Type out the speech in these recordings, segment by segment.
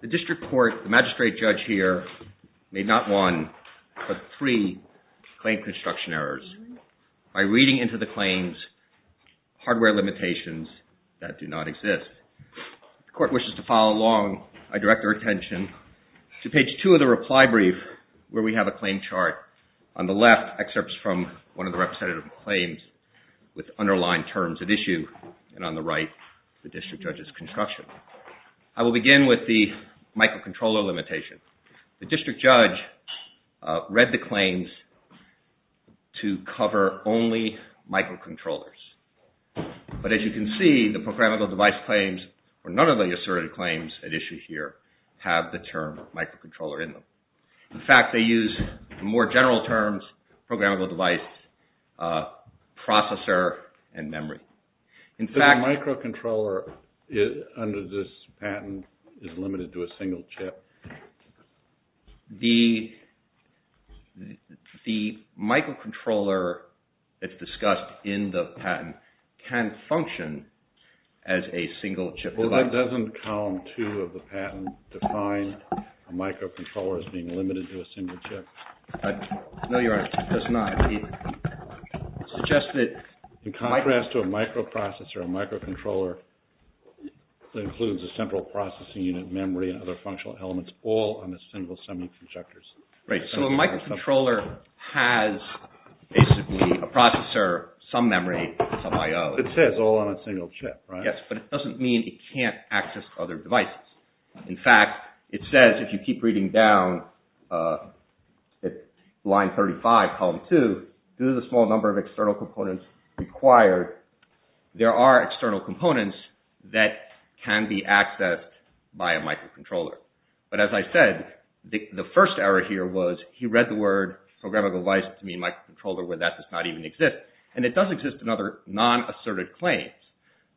The District Court, the Magistrate Judge here, made not one but three claim construction errors by reading into the claims hardware limitations that do not exist. If the Court wishes to follow along, I direct our attention to page two of the reply brief where we have a claim chart. On the left, excerpts from one of the representative claims with underlined terms at issue, and on the right, the District Judge's construction. I will begin with the microcontroller limitation. The District Judge read the claims to cover only microcontrollers. But as you can see, the programmable device claims, or none of the asserted claims at issue here, have the term microcontroller in them. In fact, they use more general terms, programmable device, processor, and memory. The microcontroller under this patent is limited to a single chip. The microcontroller that's discussed in the patent can function as a single chip. Well, that doesn't count two of the patent defined microcontrollers being limited to a single chip. No, you're right. It does not. It suggests that in contrast to a microprocessor, a microcontroller includes a central processing unit, memory, and other functional elements, all on a single semi-conjector. Right, so a microcontroller has basically a processor, some memory, some I.O. It says all on a single chip, right? Yes, but it doesn't mean it can't access other devices. In fact, it says, if you keep reading down at line 35, column 2, due to the small number of external components required, there are external components that can be accessed by a microcontroller. But as I said, the first error here was he read the word programmable device to mean microcontroller, where that does not even exist, and it does exist in other non-asserted claims.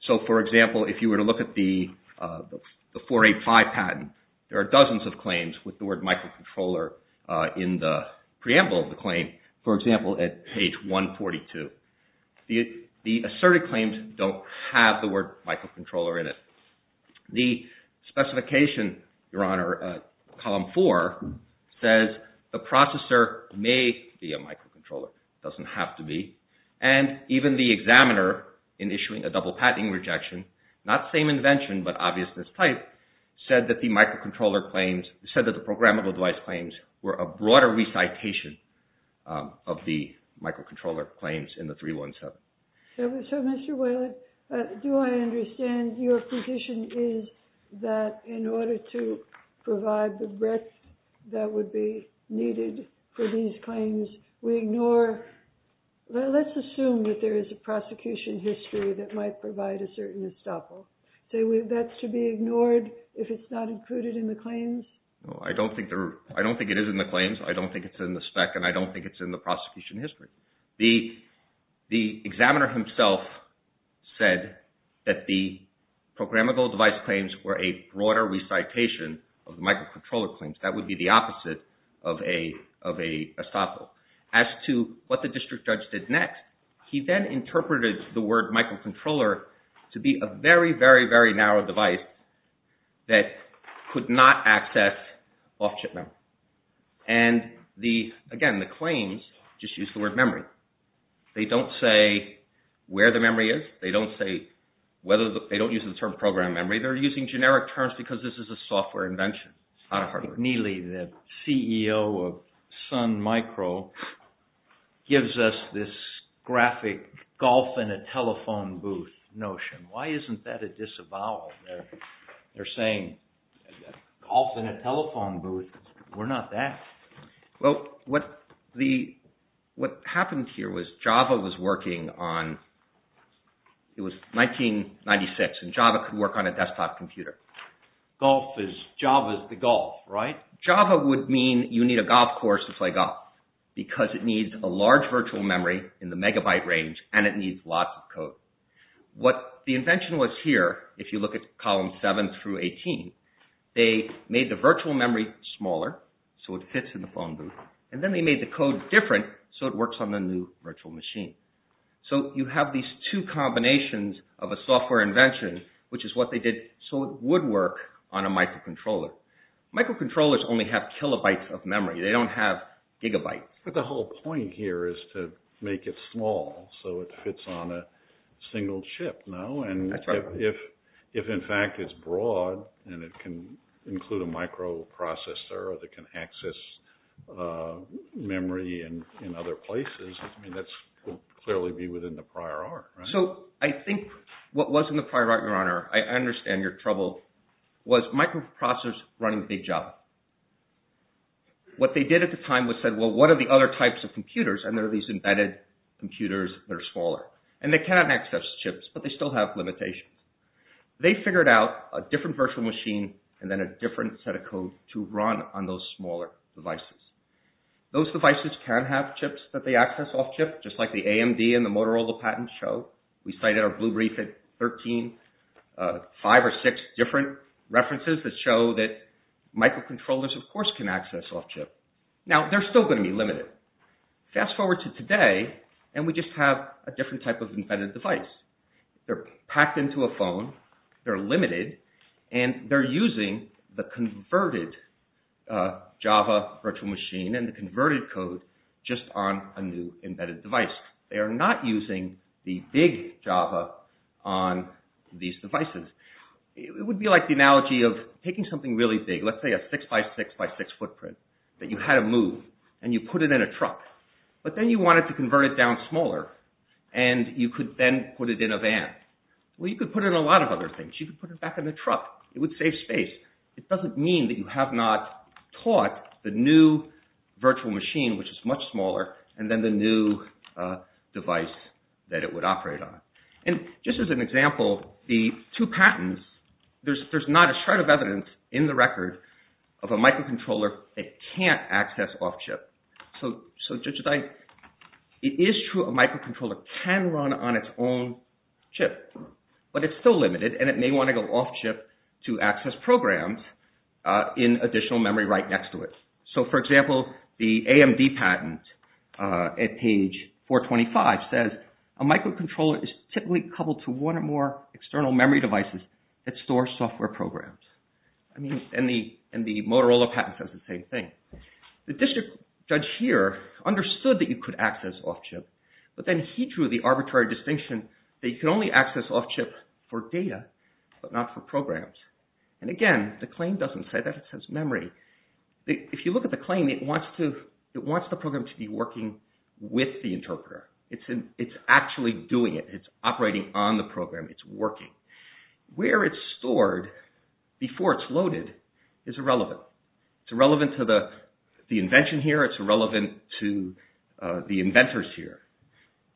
So for example, if you were to look at the 485 patent, there are dozens of claims with the word microcontroller in the preamble of the claim, for example, at page 142. The asserted claims don't have the word microcontroller in it. The specification, Your Honor, column 4, says the processor may be a microcontroller, doesn't have to be, and even the examiner, in issuing a double patenting rejection, not same invention but obviousness type, said that the microcontroller claims, said that the programmable device claims were a broader recitation of the microcontroller claims in the 317. So Mr. Whalen, do I understand your position is that in order to provide the breadth that would be needed for these claims, we ignore, let's assume that there is a prosecution history that might provide a certain estoppel, that's to be ignored if it's not included in the claims? No, I don't think it is in the claims, I don't think it's in the spec, and I don't think it's in the prosecution history. The examiner himself said that the programmable device claims were a broader recitation of microcontroller claims. That would be the opposite of an estoppel. As to what the district judge did next, he then interpreted the word microcontroller to be a very, very, very narrow device that could not access off-chip memory. And again, the claims just use the word memory. They don't say where the memory is, they don't use the term program memory, they're using generic terms because this is a software invention, it's not a hardware invention. Neely, the CEO of Sun Micro, gives us this graphic golf in a telephone booth notion. Why isn't that a disavowal? They're saying golf in a telephone booth, we're not that. Well, what happened here was Java was working on, it was 1996, and Java could work on a desktop computer. Golf is, Java is the golf, right? Java would mean you need a golf course to play golf, because it needs a large virtual memory in the megabyte range, and it needs lots of code. What the invention was here, if you look at column 7 through 18, they made the virtual memory smaller so it fits in the phone booth, and then they made the code different so it works on the new virtual machine. So you have these two combinations of a software invention, which is what they did so it would work on a microcontroller. Microcontrollers only have kilobytes of memory, they don't have gigabytes. But the whole point here is to make it small so it fits on a single chip, no? That's right. If in fact it's broad, and it can include a microprocessor that can access memory in other places, that would clearly be within the prior art, right? So I think what was in the prior art, your honor, I understand your trouble, was microprocessors running big Java. What they did at the time was said, well, what are the other types of computers, and there are these embedded computers that are smaller. And they cannot access chips, but they still have limitations. They figured out a different virtual machine and then a different set of code to run on those smaller devices. Those devices can have chips that they access off-chip, just like the AMD and the Motorola patents show. We cited our blue brief at 13, five or six different references that show that microcontrollers of course can access off-chip. Now they're still going to be limited. Fast forward to today, and we just have a different type of embedded device. They're packed into a phone, they're limited, and they're using the converted Java virtual machine and the converted code just on a new embedded device. They are not using the big Java on these devices. It would be like the analogy of taking something really big, let's say a six by six by six in a truck, but then you wanted to convert it down smaller, and you could then put it in a van. Well, you could put it in a lot of other things. You could put it back in the truck. It would save space. It doesn't mean that you have not taught the new virtual machine, which is much smaller, and then the new device that it would operate on. And just as an example, the two patents, there's not a shred of evidence in the record of a microcontroller that can't access off-chip. So, judges, it is true a microcontroller can run on its own chip, but it's still limited, and it may want to go off-chip to access programs in additional memory right next to it. So for example, the AMD patent at page 425 says, a microcontroller is typically coupled to one or more external memory devices that store software programs, and the Motorola patent says the same thing. The district judge here understood that you could access off-chip, but then he drew the arbitrary distinction that you can only access off-chip for data, but not for programs. And again, the claim doesn't say that, it says memory. If you look at the claim, it wants the program to be working with the interpreter. It's actually doing it. It's operating on the program. It's working. Where it's stored before it's loaded is irrelevant. It's irrelevant to the invention here. It's irrelevant to the inventors here.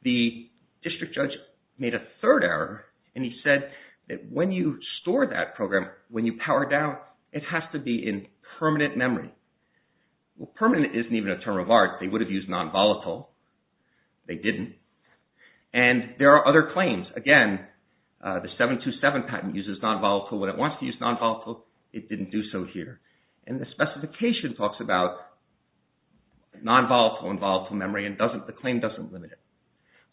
The district judge made a third error, and he said that when you store that program, when you power down, it has to be in permanent memory. Well, permanent isn't even a term of art. They would have used non-volatile. They didn't. And there are other claims. Again, the 727 patent uses non-volatile. When it wants to use non-volatile, it didn't do so here. And the specification talks about non-volatile and volatile memory, and the claim doesn't limit it.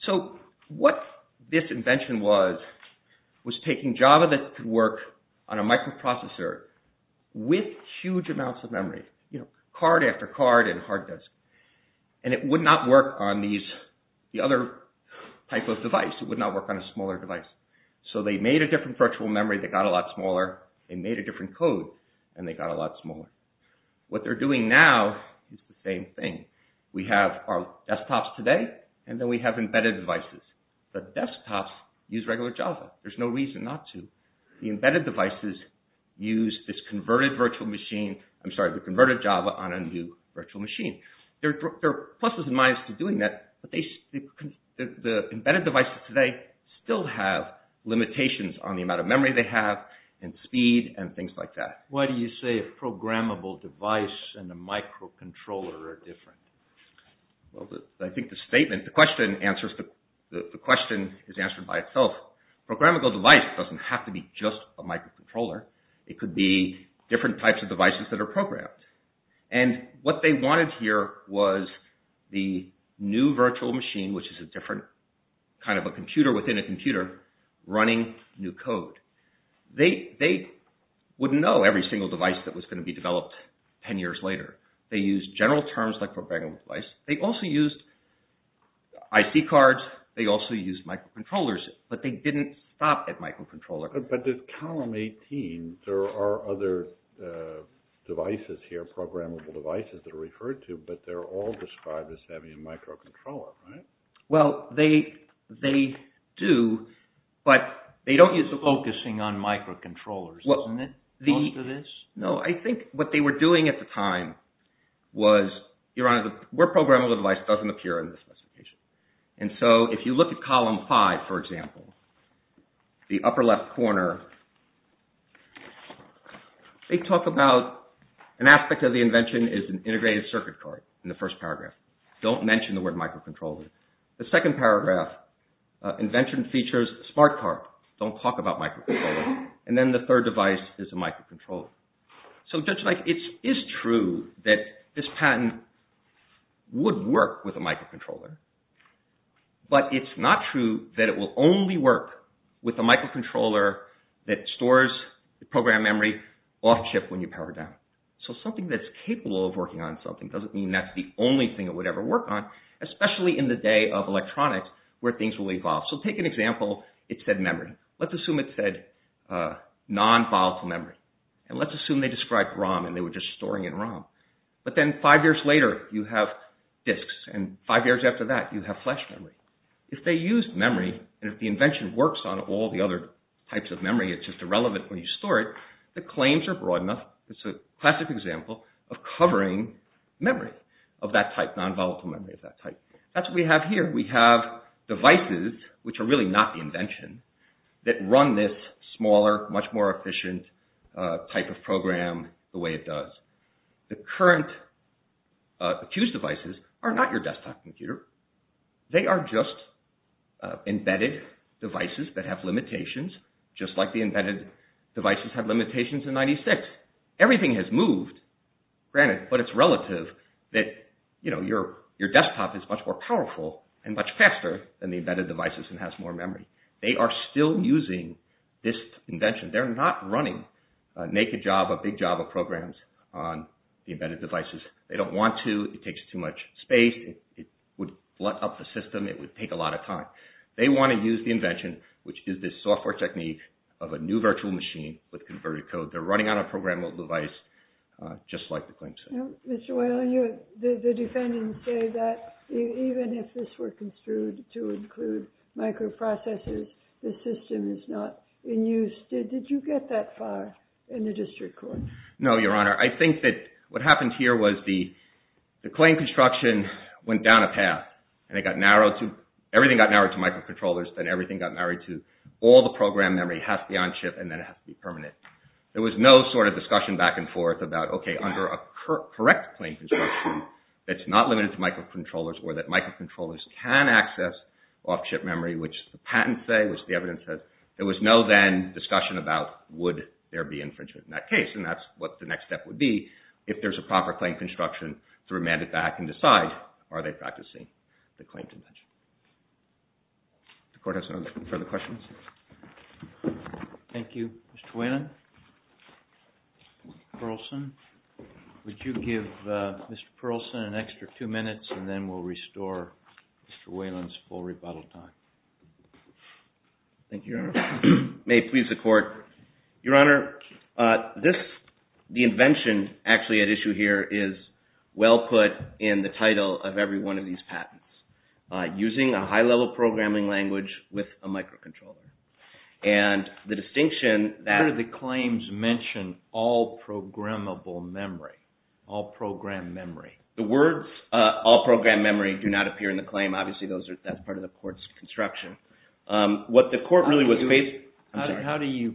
So what this invention was, was taking Java that could work on a microprocessor with huge amounts of memory, card after card and hard disk, and it would not work on the other type of device. It would not work on a smaller device. So they made a different virtual memory that got a lot smaller, they made a different code, and they got a lot smaller. What they're doing now is the same thing. We have our desktops today, and then we have embedded devices. The desktops use regular Java. There's no reason not to. The embedded devices use this converted Java on a new virtual machine. There are pluses and minuses to doing that, but the embedded devices today still have limitations on the amount of memory they have, and speed, and things like that. Why do you say a programmable device and a microcontroller are different? I think the statement, the question is answered by itself. Programmable device doesn't have to be just a microcontroller. It could be different types of devices that are programmed. And what they wanted here was the new virtual machine, which is a different kind of a computer within a computer, running new code. They wouldn't know every single device that was going to be developed 10 years later. They used general terms like programmable device. They also used IC cards. They also used microcontrollers, but they didn't stop at microcontroller. But in column 18, there are other devices here, programmable devices that are referred to, but they're all described as having a microcontroller, right? Well, they do, but they don't use the focusing on microcontrollers, doesn't it? No, I think what they were doing at the time was, Your Honor, the word programmable device doesn't appear in this specification. And so if you look at column five, for example, the upper left corner, they talk about an aspect of the invention is an integrated circuit card in the first paragraph. Don't mention the word microcontroller. The second paragraph, invention features smart card. Don't talk about microcontroller. And then the third device is a microcontroller. So Judge Mike, it is true that this patent would work with a microcontroller, but it's not true that it will only work with a microcontroller that stores the program memory off chip when you power it down. So something that's capable of working on something doesn't mean that's the only thing it would ever work on, especially in the day of electronics where things will evolve. So take an example, it said memory. Let's assume it said nonvolatile memory. And let's assume they described ROM and they were just storing in ROM. But then five years later, you have disks. And five years after that, you have flash memory. If they used memory and if the invention works on all the other types of memory, it's just irrelevant when you store it. The claims are broad enough. It's a classic example of covering memory of that type, nonvolatile memory of that type. That's what we have here. We have devices, which are really not the invention, that run this smaller, much more efficient type of program the way it does. The current accused devices are not your desktop computer. They are just embedded devices that have limitations, just like the embedded devices had limitations in 96. Everything has moved, granted, but it's relative that your desktop is much more powerful and much faster than the embedded devices and has more memory. They are still using this invention. They're not running a naked Java, big Java programs on the embedded devices. They don't want to, it takes too much space, it would flood up the system, it would take a lot of time. They want to use the invention, which is this software technique of a new virtual machine with converted code. They're running on a programmable device, just like the claims say. Mr. Whalen, the defendants say that even if this were construed to include microprocessors, the system is not in use. Did you get that far in the district court? No, Your Honor. I think that what happened here was the claim construction went down a path, and it got narrowed to, everything got narrowed to microcontrollers, then everything got narrowed to all the program memory has to be on chip, and then it has to be permanent. There was no sort of discussion back and forth about, okay, under a correct claim construction, it's not limited to microcontrollers, or that microcontrollers can access off-chip memory, which the patents say, which the evidence says, there was no then discussion about would there be infringement in that case, and that's what the next step would be, if there's a proper claim construction to remand it back and decide, are they practicing the claim convention? The court has no further questions? Thank you. Mr. Whalen? Mr. Perlson? Would you give Mr. Perlson an extra two minutes, and then we'll restore Mr. Whalen's full rebuttal time. Thank you, Your Honor. May it please the court, Your Honor, this, the invention actually at issue here is well put in the title of every one of these patents. Using a high-level programming language with a microcontroller. And the distinction that- Where do the claims mention all programmable memory, all programmed memory? The words all programmed memory do not appear in the claim, obviously that's part of the court's construction. What the court really was- How do you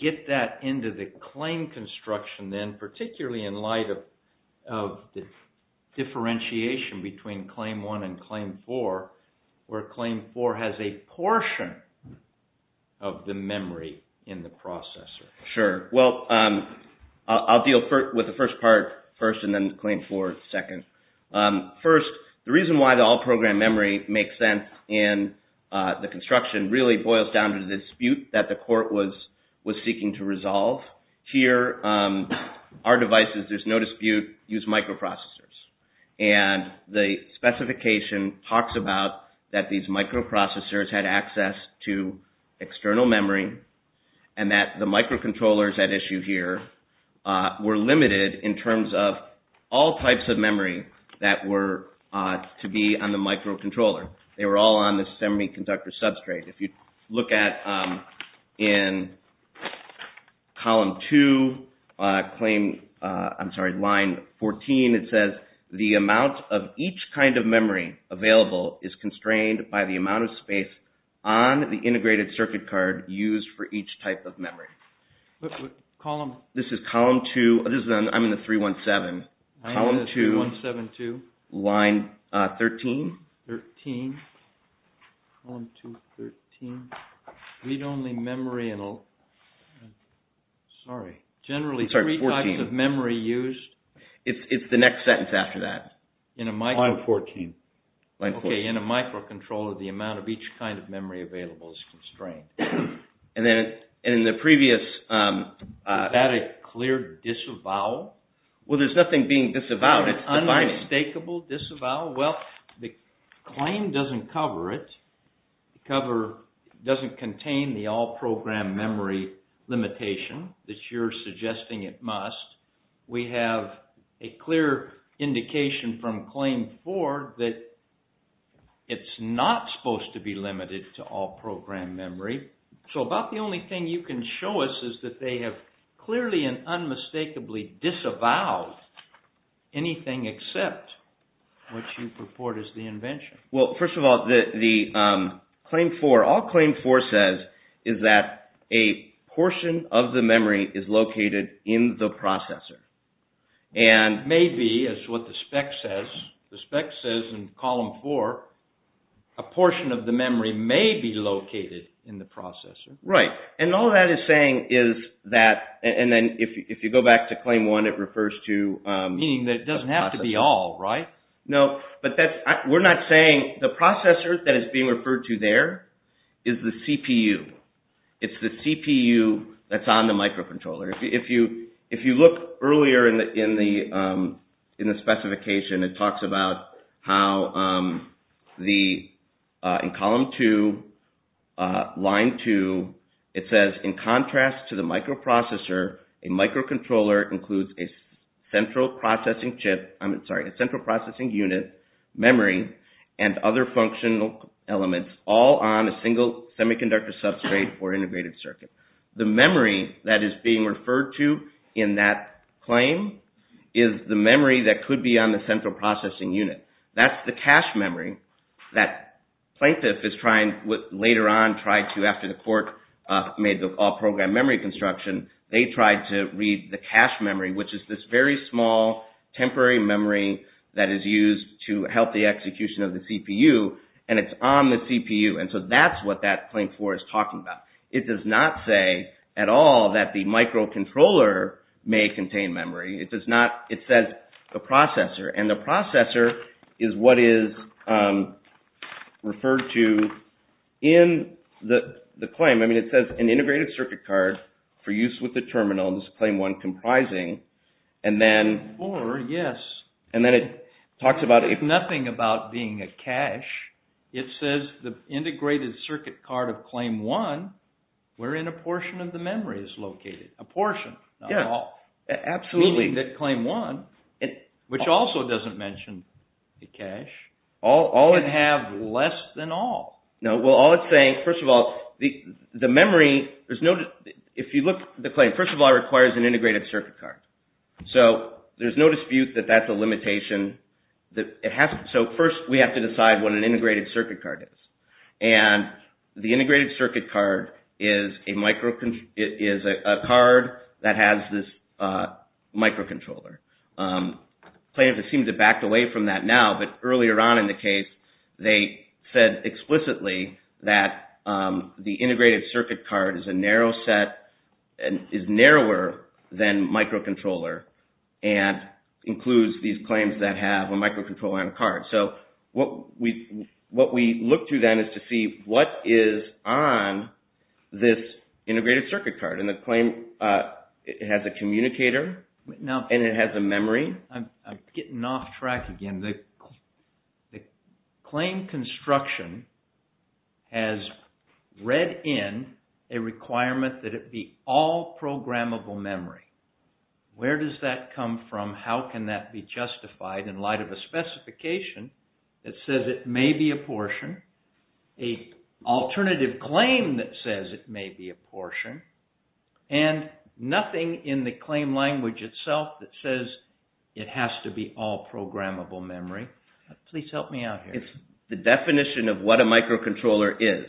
get that into the claim construction then, particularly in light of the differentiation between Claim 1 and Claim 4, where Claim 4 has a portion of the memory in the processor? Sure. Well, I'll deal with the first part first, and then Claim 4 second. First, the reason why the all programmed memory makes sense in the construction really boils down to the dispute that the court was seeking to resolve. Here, our devices, there's no dispute, use microprocessors. And the specification talks about that these microprocessors had access to external memory and that the microcontrollers at issue here were limited in terms of all types of memory that were to be on the microcontroller. They were all on the semiconductor substrate. If you look at in Column 2, I'm sorry, Line 14, it says, the amount of each kind of memory available is constrained by the amount of space on the integrated circuit card used Column? This is Column 2, I'm in the 317, Column 2, Line 13. 13, Column 2, 13, read-only memory, sorry, generally three types of memory used. It's the next sentence after that. In a micro... Line 14. Okay, in a microcontroller, the amount of each kind of memory available is constrained. And then in the previous... Is that a clear disavowal? Well, there's nothing being disavowed. It's defining. An unmistakable disavowal? Well, the claim doesn't cover it, doesn't contain the all-program memory limitation that you're suggesting it must. We have a clear indication from Claim 4 that it's not supposed to be limited to all-program memory, so about the only thing you can show us is that they have clearly and unmistakably disavowed anything except what you purport is the invention. Well, first of all, the Claim 4, all Claim 4 says is that a portion of the memory is located in the processor. And maybe, as what the spec says, the spec says in Column 4, a portion of the memory may be located in the processor. Right. And all that is saying is that... And then if you go back to Claim 1, it refers to... Meaning that it doesn't have to be all, right? No, but we're not saying... The processor that is being referred to there is the CPU. It's the CPU that's on the microcontroller. If you look earlier in the specification, it talks about how in Column 2, Line 2, it says, in contrast to the microprocessor, a microcontroller includes a central processing chip... I'm sorry, a central processing unit, memory, and other functional elements all on a single semiconductor substrate or integrated circuit. The memory that is being referred to in that claim is the memory that could be on the central processing unit. That's the cache memory that plaintiff is trying... Later on, tried to, after the court made the all-program memory construction, they tried to read the cache memory, which is this very small, temporary memory that is used to help the execution of the CPU, and it's on the CPU. And so that's what that Claim 4 is talking about. It does not say at all that the microcontroller may contain memory. It does not... It says the processor, and the processor is what is referred to in the claim. I mean, it says an integrated circuit card for use with the terminal, this Claim 1 comprising, and then... Claim 4, yes. And then it talks about... Nothing about being a cache. It says the integrated circuit card of Claim 1, wherein a portion of the memory is located. A portion. Yes. Absolutely. Meaning that Claim 1, which also doesn't mention the cache, can have less than all. No. Well, all it's saying... First of all, the memory, there's no... If you look at the claim, first of all, it requires an integrated circuit card. So there's no dispute that that's a limitation. It has... So first, we have to decide what an integrated circuit card is. And the integrated circuit card is a microcontroller... It is a card that has this microcontroller. Plaintiff seems to have backed away from that now, but earlier on in the case, they said explicitly that the integrated circuit card is a narrow set, and is narrower than microcontroller, and includes these claims that have a microcontroller and a card. So what we look to then is to see what is on this integrated circuit card. And the claim, it has a communicator, and it has a memory. I'm getting off track again. The claim construction has read in a requirement that it be all programmable memory. Where does that come from? How can that be justified in light of a specification that says it may be a portion? A alternative claim that says it may be a portion? And nothing in the claim language itself that says it has to be all programmable memory. Please help me out here. It's the definition of what a microcontroller is.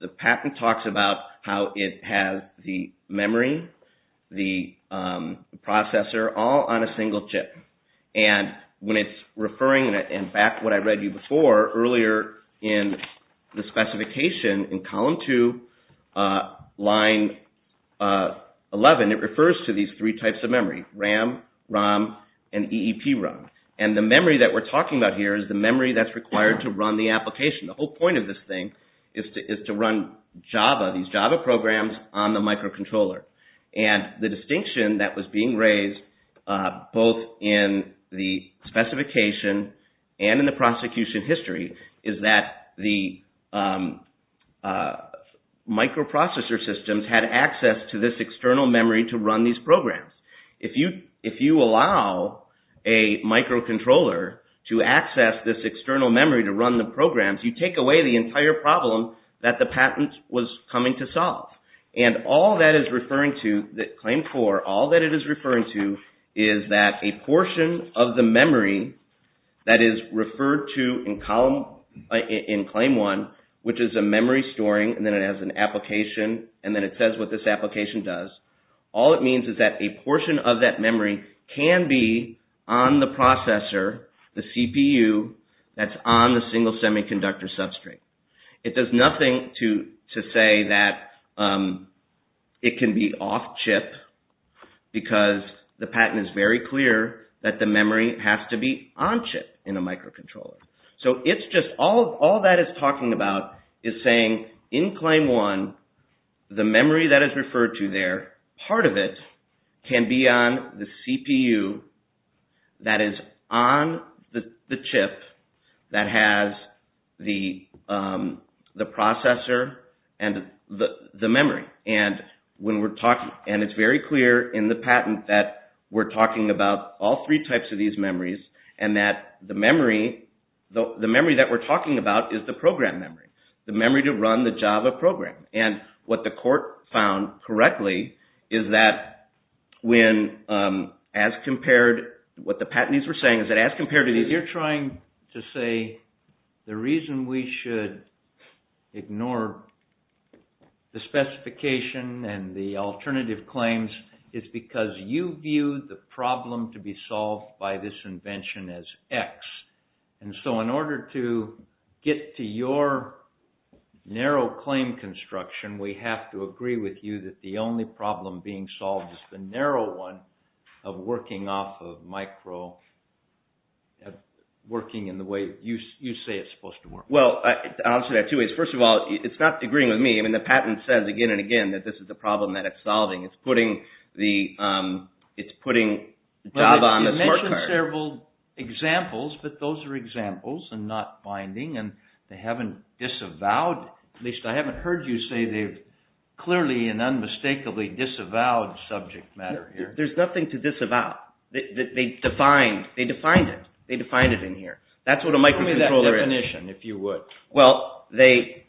The patent talks about how it has the memory, the processor, all on a single chip. And when it's referring, and back to what I read you before, earlier in the specification in column two, line 11, it refers to these three types of memory, RAM, ROM, and EEP ROM. And the memory that we're talking about here is the memory that's required to run the application. The whole point of this thing is to run Java, these Java programs, on the microcontroller. And the distinction that was being raised both in the specification and in the prosecution history is that the microprocessor systems had access to this external memory to run these programs. If you allow a microcontroller to access this external memory to run the programs, you take away the entire problem that the patent was coming to solve. And all that is referring to, that claim four, all that it is referring to is that a portion of the memory that is referred to in claim one, which is a memory storing, and then it has an application, and then it says what this application does. All it means is that a portion of that memory can be on the processor, the CPU that's on the single semiconductor substrate. It does nothing to say that it can be off-chip because the patent is very clear that the memory has to be on-chip in a microcontroller. So, it's just all that it's talking about is saying in claim one, the memory that is the processor and the memory. And it's very clear in the patent that we're talking about all three types of these memories and that the memory that we're talking about is the program memory, the memory to run the Java program. And what the court found correctly is that when, as compared, what the patentees were saying is that as compared to these... You're trying to say the reason we should ignore the specification and the alternative claims is because you view the problem to be solved by this invention as X. And so, in order to get to your narrow claim construction, we have to agree with you that the only problem being solved is the narrow one of working off of micro... Working in the way you say it's supposed to work. Well, I'll say that two ways. First of all, it's not agreeing with me. I mean, the patent says again and again that this is the problem that it's solving. It's putting Java on the smart card. You mentioned several examples, but those are examples and not binding and they haven't disavowed. At least I haven't heard you say they've clearly and unmistakably disavowed subject matter here. There's nothing to disavow. They defined it. They defined it in here. That's what a microcontroller is. Give me that definition, if you would. Well, they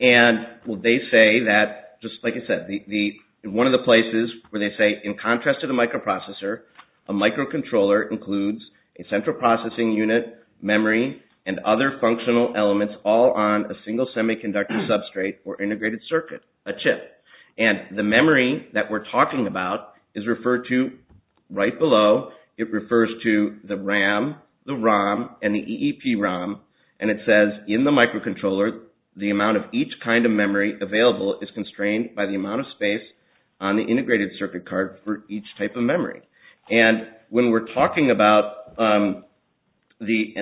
say that, just like I said, one of the places where they say in contrast to the microprocessor, a microcontroller includes a central processing unit, memory, and other functional elements all on a single semiconductor substrate or integrated circuit, a chip. The memory that we're talking about is referred to right below. It refers to the RAM, the ROM, and the EEP ROM, and it says in the microcontroller, the amount of each kind of memory available is constrained by the amount of space on the integrated circuit card for each type of memory. When we're talking about the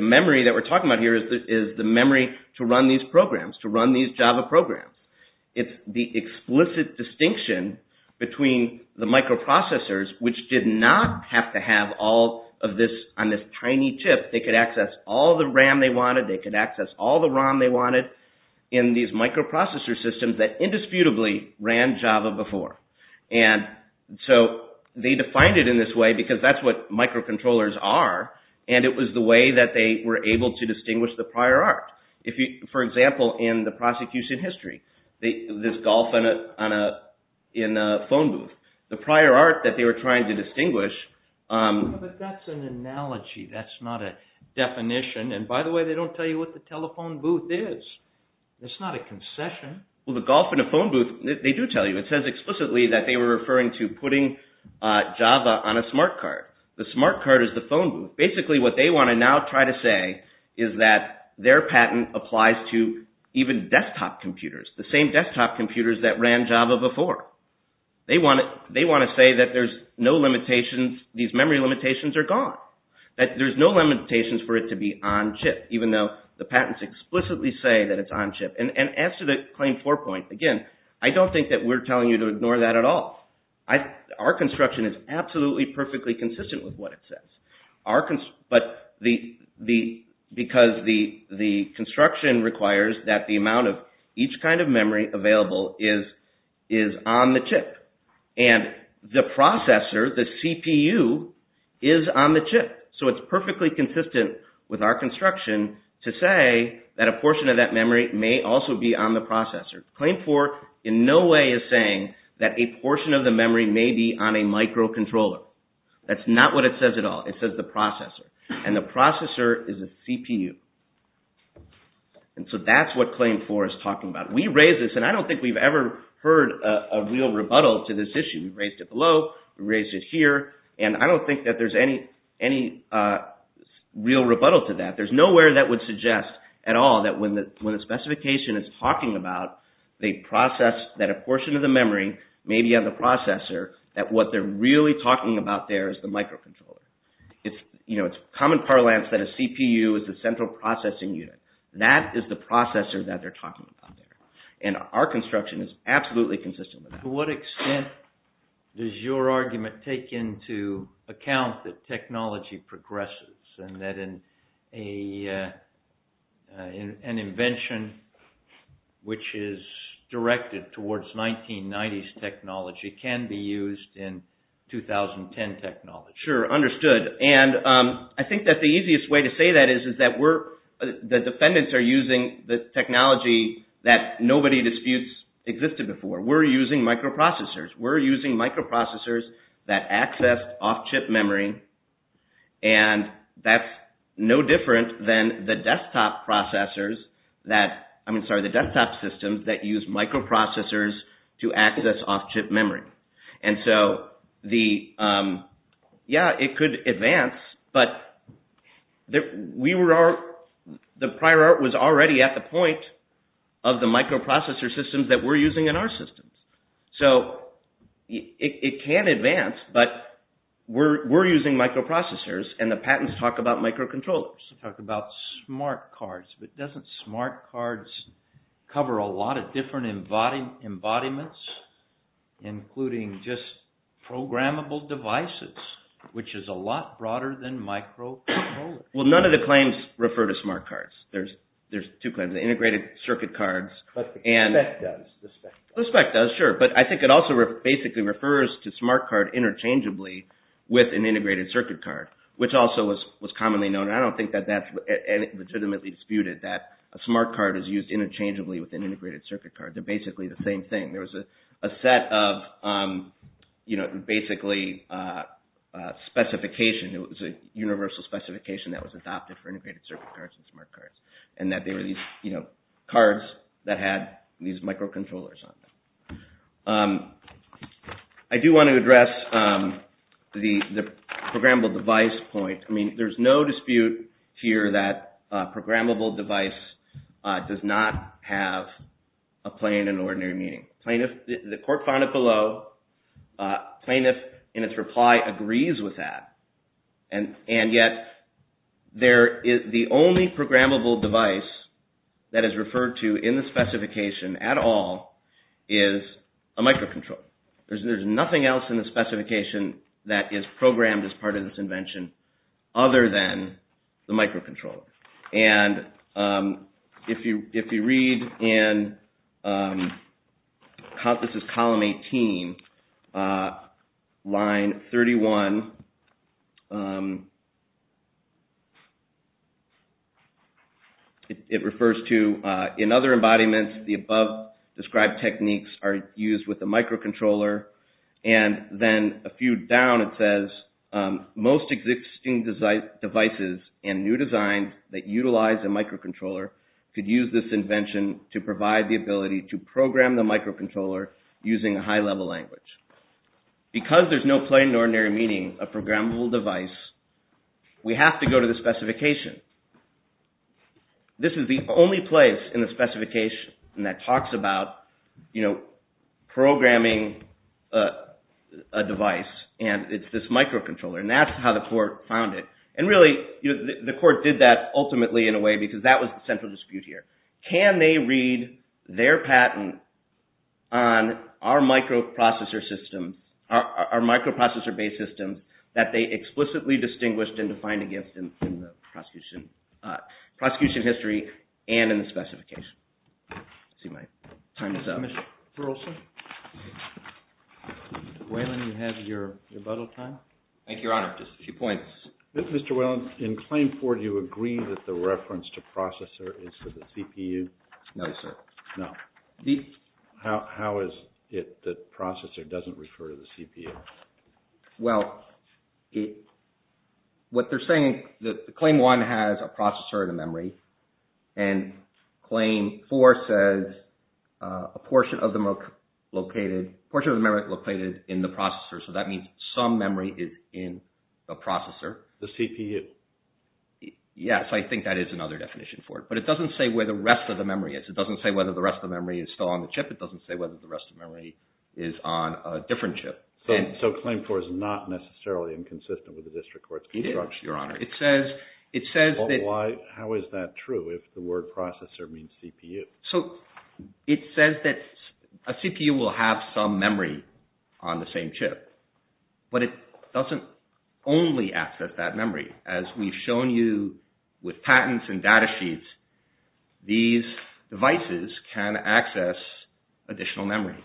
memory that we're talking about here is the memory to run these programs, to run these Java programs. It's the explicit distinction between the microprocessors which did not have to have all of this on this tiny chip. They could access all the RAM they wanted. They could access all the ROM they wanted in these microprocessor systems that indisputably ran Java before, and so they defined it in this way because that's what microcontrollers are, and it was the way that they were able to distinguish the prior art. For example, in the prosecution history, this golf in a phone booth, the prior art that they were trying to distinguish... But that's an analogy. That's not a definition. And by the way, they don't tell you what the telephone booth is. It's not a concession. Well, the golf in a phone booth, they do tell you. It says explicitly that they were referring to putting Java on a smart card. The smart card is the phone booth. Basically, what they want to now try to say is that their patent applies to even desktop computers, the same desktop computers that ran Java before. They want to say that there's no limitations. These memory limitations are gone, that there's no limitations for it to be on chip, even though the patents explicitly say that it's on chip. And as to the Claim 4 point, again, I don't think that we're telling you to ignore that at all. Our construction is absolutely perfectly consistent with what it says. But because the construction requires that the amount of each kind of memory available is on the chip, and the processor, the CPU, is on the chip. So it's perfectly consistent with our construction to say that a portion of that memory may only also be on the processor. Claim 4 in no way is saying that a portion of the memory may be on a microcontroller. That's not what it says at all. It says the processor. And the processor is a CPU. And so that's what Claim 4 is talking about. We raised this, and I don't think we've ever heard a real rebuttal to this issue. We raised it below. We raised it here. And I don't think that there's any real rebuttal to that. There's nowhere that would suggest at all that when the specification is talking about the process that a portion of the memory may be on the processor, that what they're really talking about there is the microcontroller. It's common parlance that a CPU is the central processing unit. That is the processor that they're talking about there. And our construction is absolutely consistent with that. To what extent does your argument take into account that technology progresses and that an invention which is directed towards 1990s technology can be used in 2010 technology? Sure. Understood. And I think that the easiest way to say that is that the defendants are using the technology that nobody disputes existed before. We're using microprocessors. We're using microprocessors that access off-chip memory, and that's no different than the desktop systems that use microprocessors to access off-chip memory. And so, yeah, it could advance, but the prior art was already at the point of the microprocessor systems that we're using in our systems. So it can advance, but we're using microprocessors, and the patents talk about microcontrollers. Talk about smart cards, but doesn't smart cards cover a lot of different embodiments, including just programmable devices, which is a lot broader than microcontrollers. Well, none of the claims refer to smart cards. There's two claims, the integrated circuit cards. But the spec does. The spec does. The spec does, sure, but I think it also basically refers to smart card interchangeably with an integrated circuit card, which also was commonly known. I don't think that that's legitimately disputed, that a smart card is used interchangeably with an integrated circuit card. They're basically the same thing. There was a set of basically specification. It was a universal specification that was adopted for integrated circuit cards and smart cards, and that they were these cards that had these microcontrollers on them. I do want to address the programmable device point. I mean, there's no dispute here that programmable device does not have a plain and ordinary meaning. The court found it below. Plaintiff, in its reply, agrees with that. And yet, the only programmable device that is referred to in the specification at all is a microcontroller. There's nothing else in the specification that is programmed as part of this invention other than the microcontroller. And if you read in column 18, line 31, it refers to, in other embodiments, the above described techniques are used with the microcontroller. And then a few down, it says, most existing devices and new designs that utilize a microcontroller could use this invention to provide the ability to program the microcontroller using a high level language. Because there's no plain and ordinary meaning of programmable device, we have to go to the specification. This is the only place in the specification that talks about programming a device and it's this microcontroller. And that's how the court found it. And really, the court did that ultimately in a way because that was the central dispute here. Can they read their patent on our microprocessor systems, our microprocessor-based systems that they explicitly distinguished and defined against in the prosecution history and in the specification? Let's see, my time is up. Mr. Olson? Wayland, you have your rebuttal time? Thank you, Your Honor. Just a few points. Mr. Wayland, in claim four, do you agree that the reference to processor is for the CPU? No. How is it that processor doesn't refer to the CPU? Well, what they're saying is that claim one has a processor and a memory. And claim four says a portion of the memory is located in the processor. So that means some memory is in the processor. The CPU. Yes, I think that is another definition for it. But it doesn't say where the rest of the memory is. It doesn't say whether the rest of the memory is still on the chip. It doesn't say whether the rest of the memory is on a different chip. So claim four is not necessarily inconsistent with the district court's construction. It is, Your Honor. How is that true if the word processor means CPU? So it says that a CPU will have some memory on the same chip. But it doesn't only access that memory. As we've shown you with patents and data sheets, these devices can access additional memory.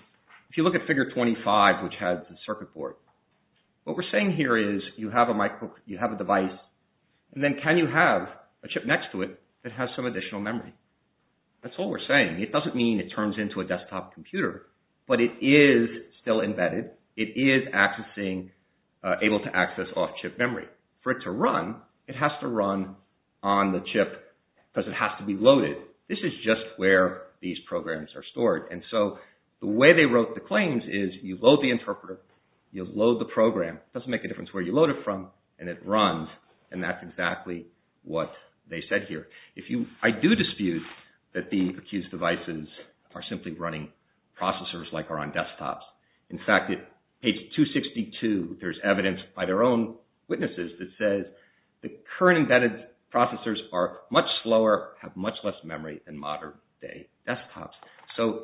If you look at figure 25, which has the circuit board, what we're saying here is you have a device. And then can you have a chip next to it that has some additional memory? That's all we're saying. It doesn't mean it turns into a desktop computer, but it is still embedded. It is able to access off-chip memory. For it to run, it has to run on the chip because it has to be loaded. This is just where these programs are stored. And so the way they wrote the claims is you load the interpreter. You load the program. It doesn't make a difference where you load it from. And it runs. And that's exactly what they said here. I do dispute that the accused devices are simply running processors like are on desktops. In fact, at page 262, there's evidence by their own witnesses that says the current embedded processors are much slower, have much less memory than modern day desktops. So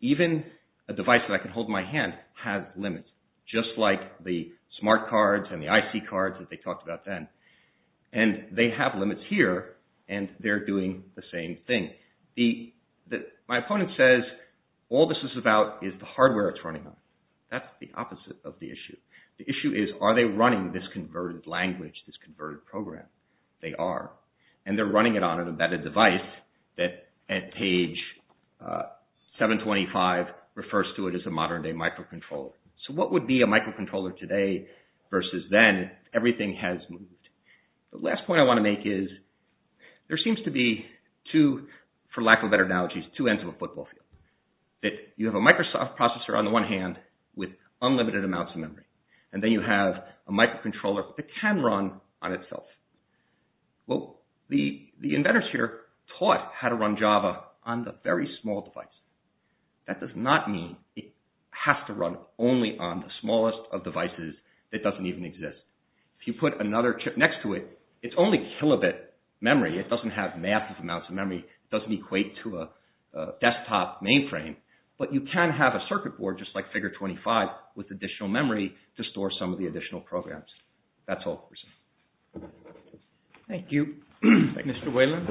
even a device that I can hold in my hand has limits, just like the smart cards and the IC cards that they talked about then. And they have limits here, and they're doing the same thing. My opponent says all this is about is the hardware it's running on. That's the opposite of the issue. The issue is are they running this converted language, this converted program? They are. And they're running it on an embedded device that at page 725 refers to it as a modern day microcontroller. So what would be a microcontroller today versus then? Everything has moved. The last point I want to make is there seems to be two, for lack of better analogies, two ends of a football field. That you have a Microsoft processor on the one hand with unlimited amounts of memory. And then you have a microcontroller that can run on itself. Well, the inventors here taught how to run Java on the very small device. That does not mean it has to run only on the smallest of devices that doesn't even exist. If you put another chip next to it, it's only kilobit memory. It doesn't have massive amounts of memory. It doesn't equate to a desktop mainframe. But you can have a circuit board just like Figure 25 with additional memory to store some of the additional programs. That's all for now. Thank you, Mr. Whelan.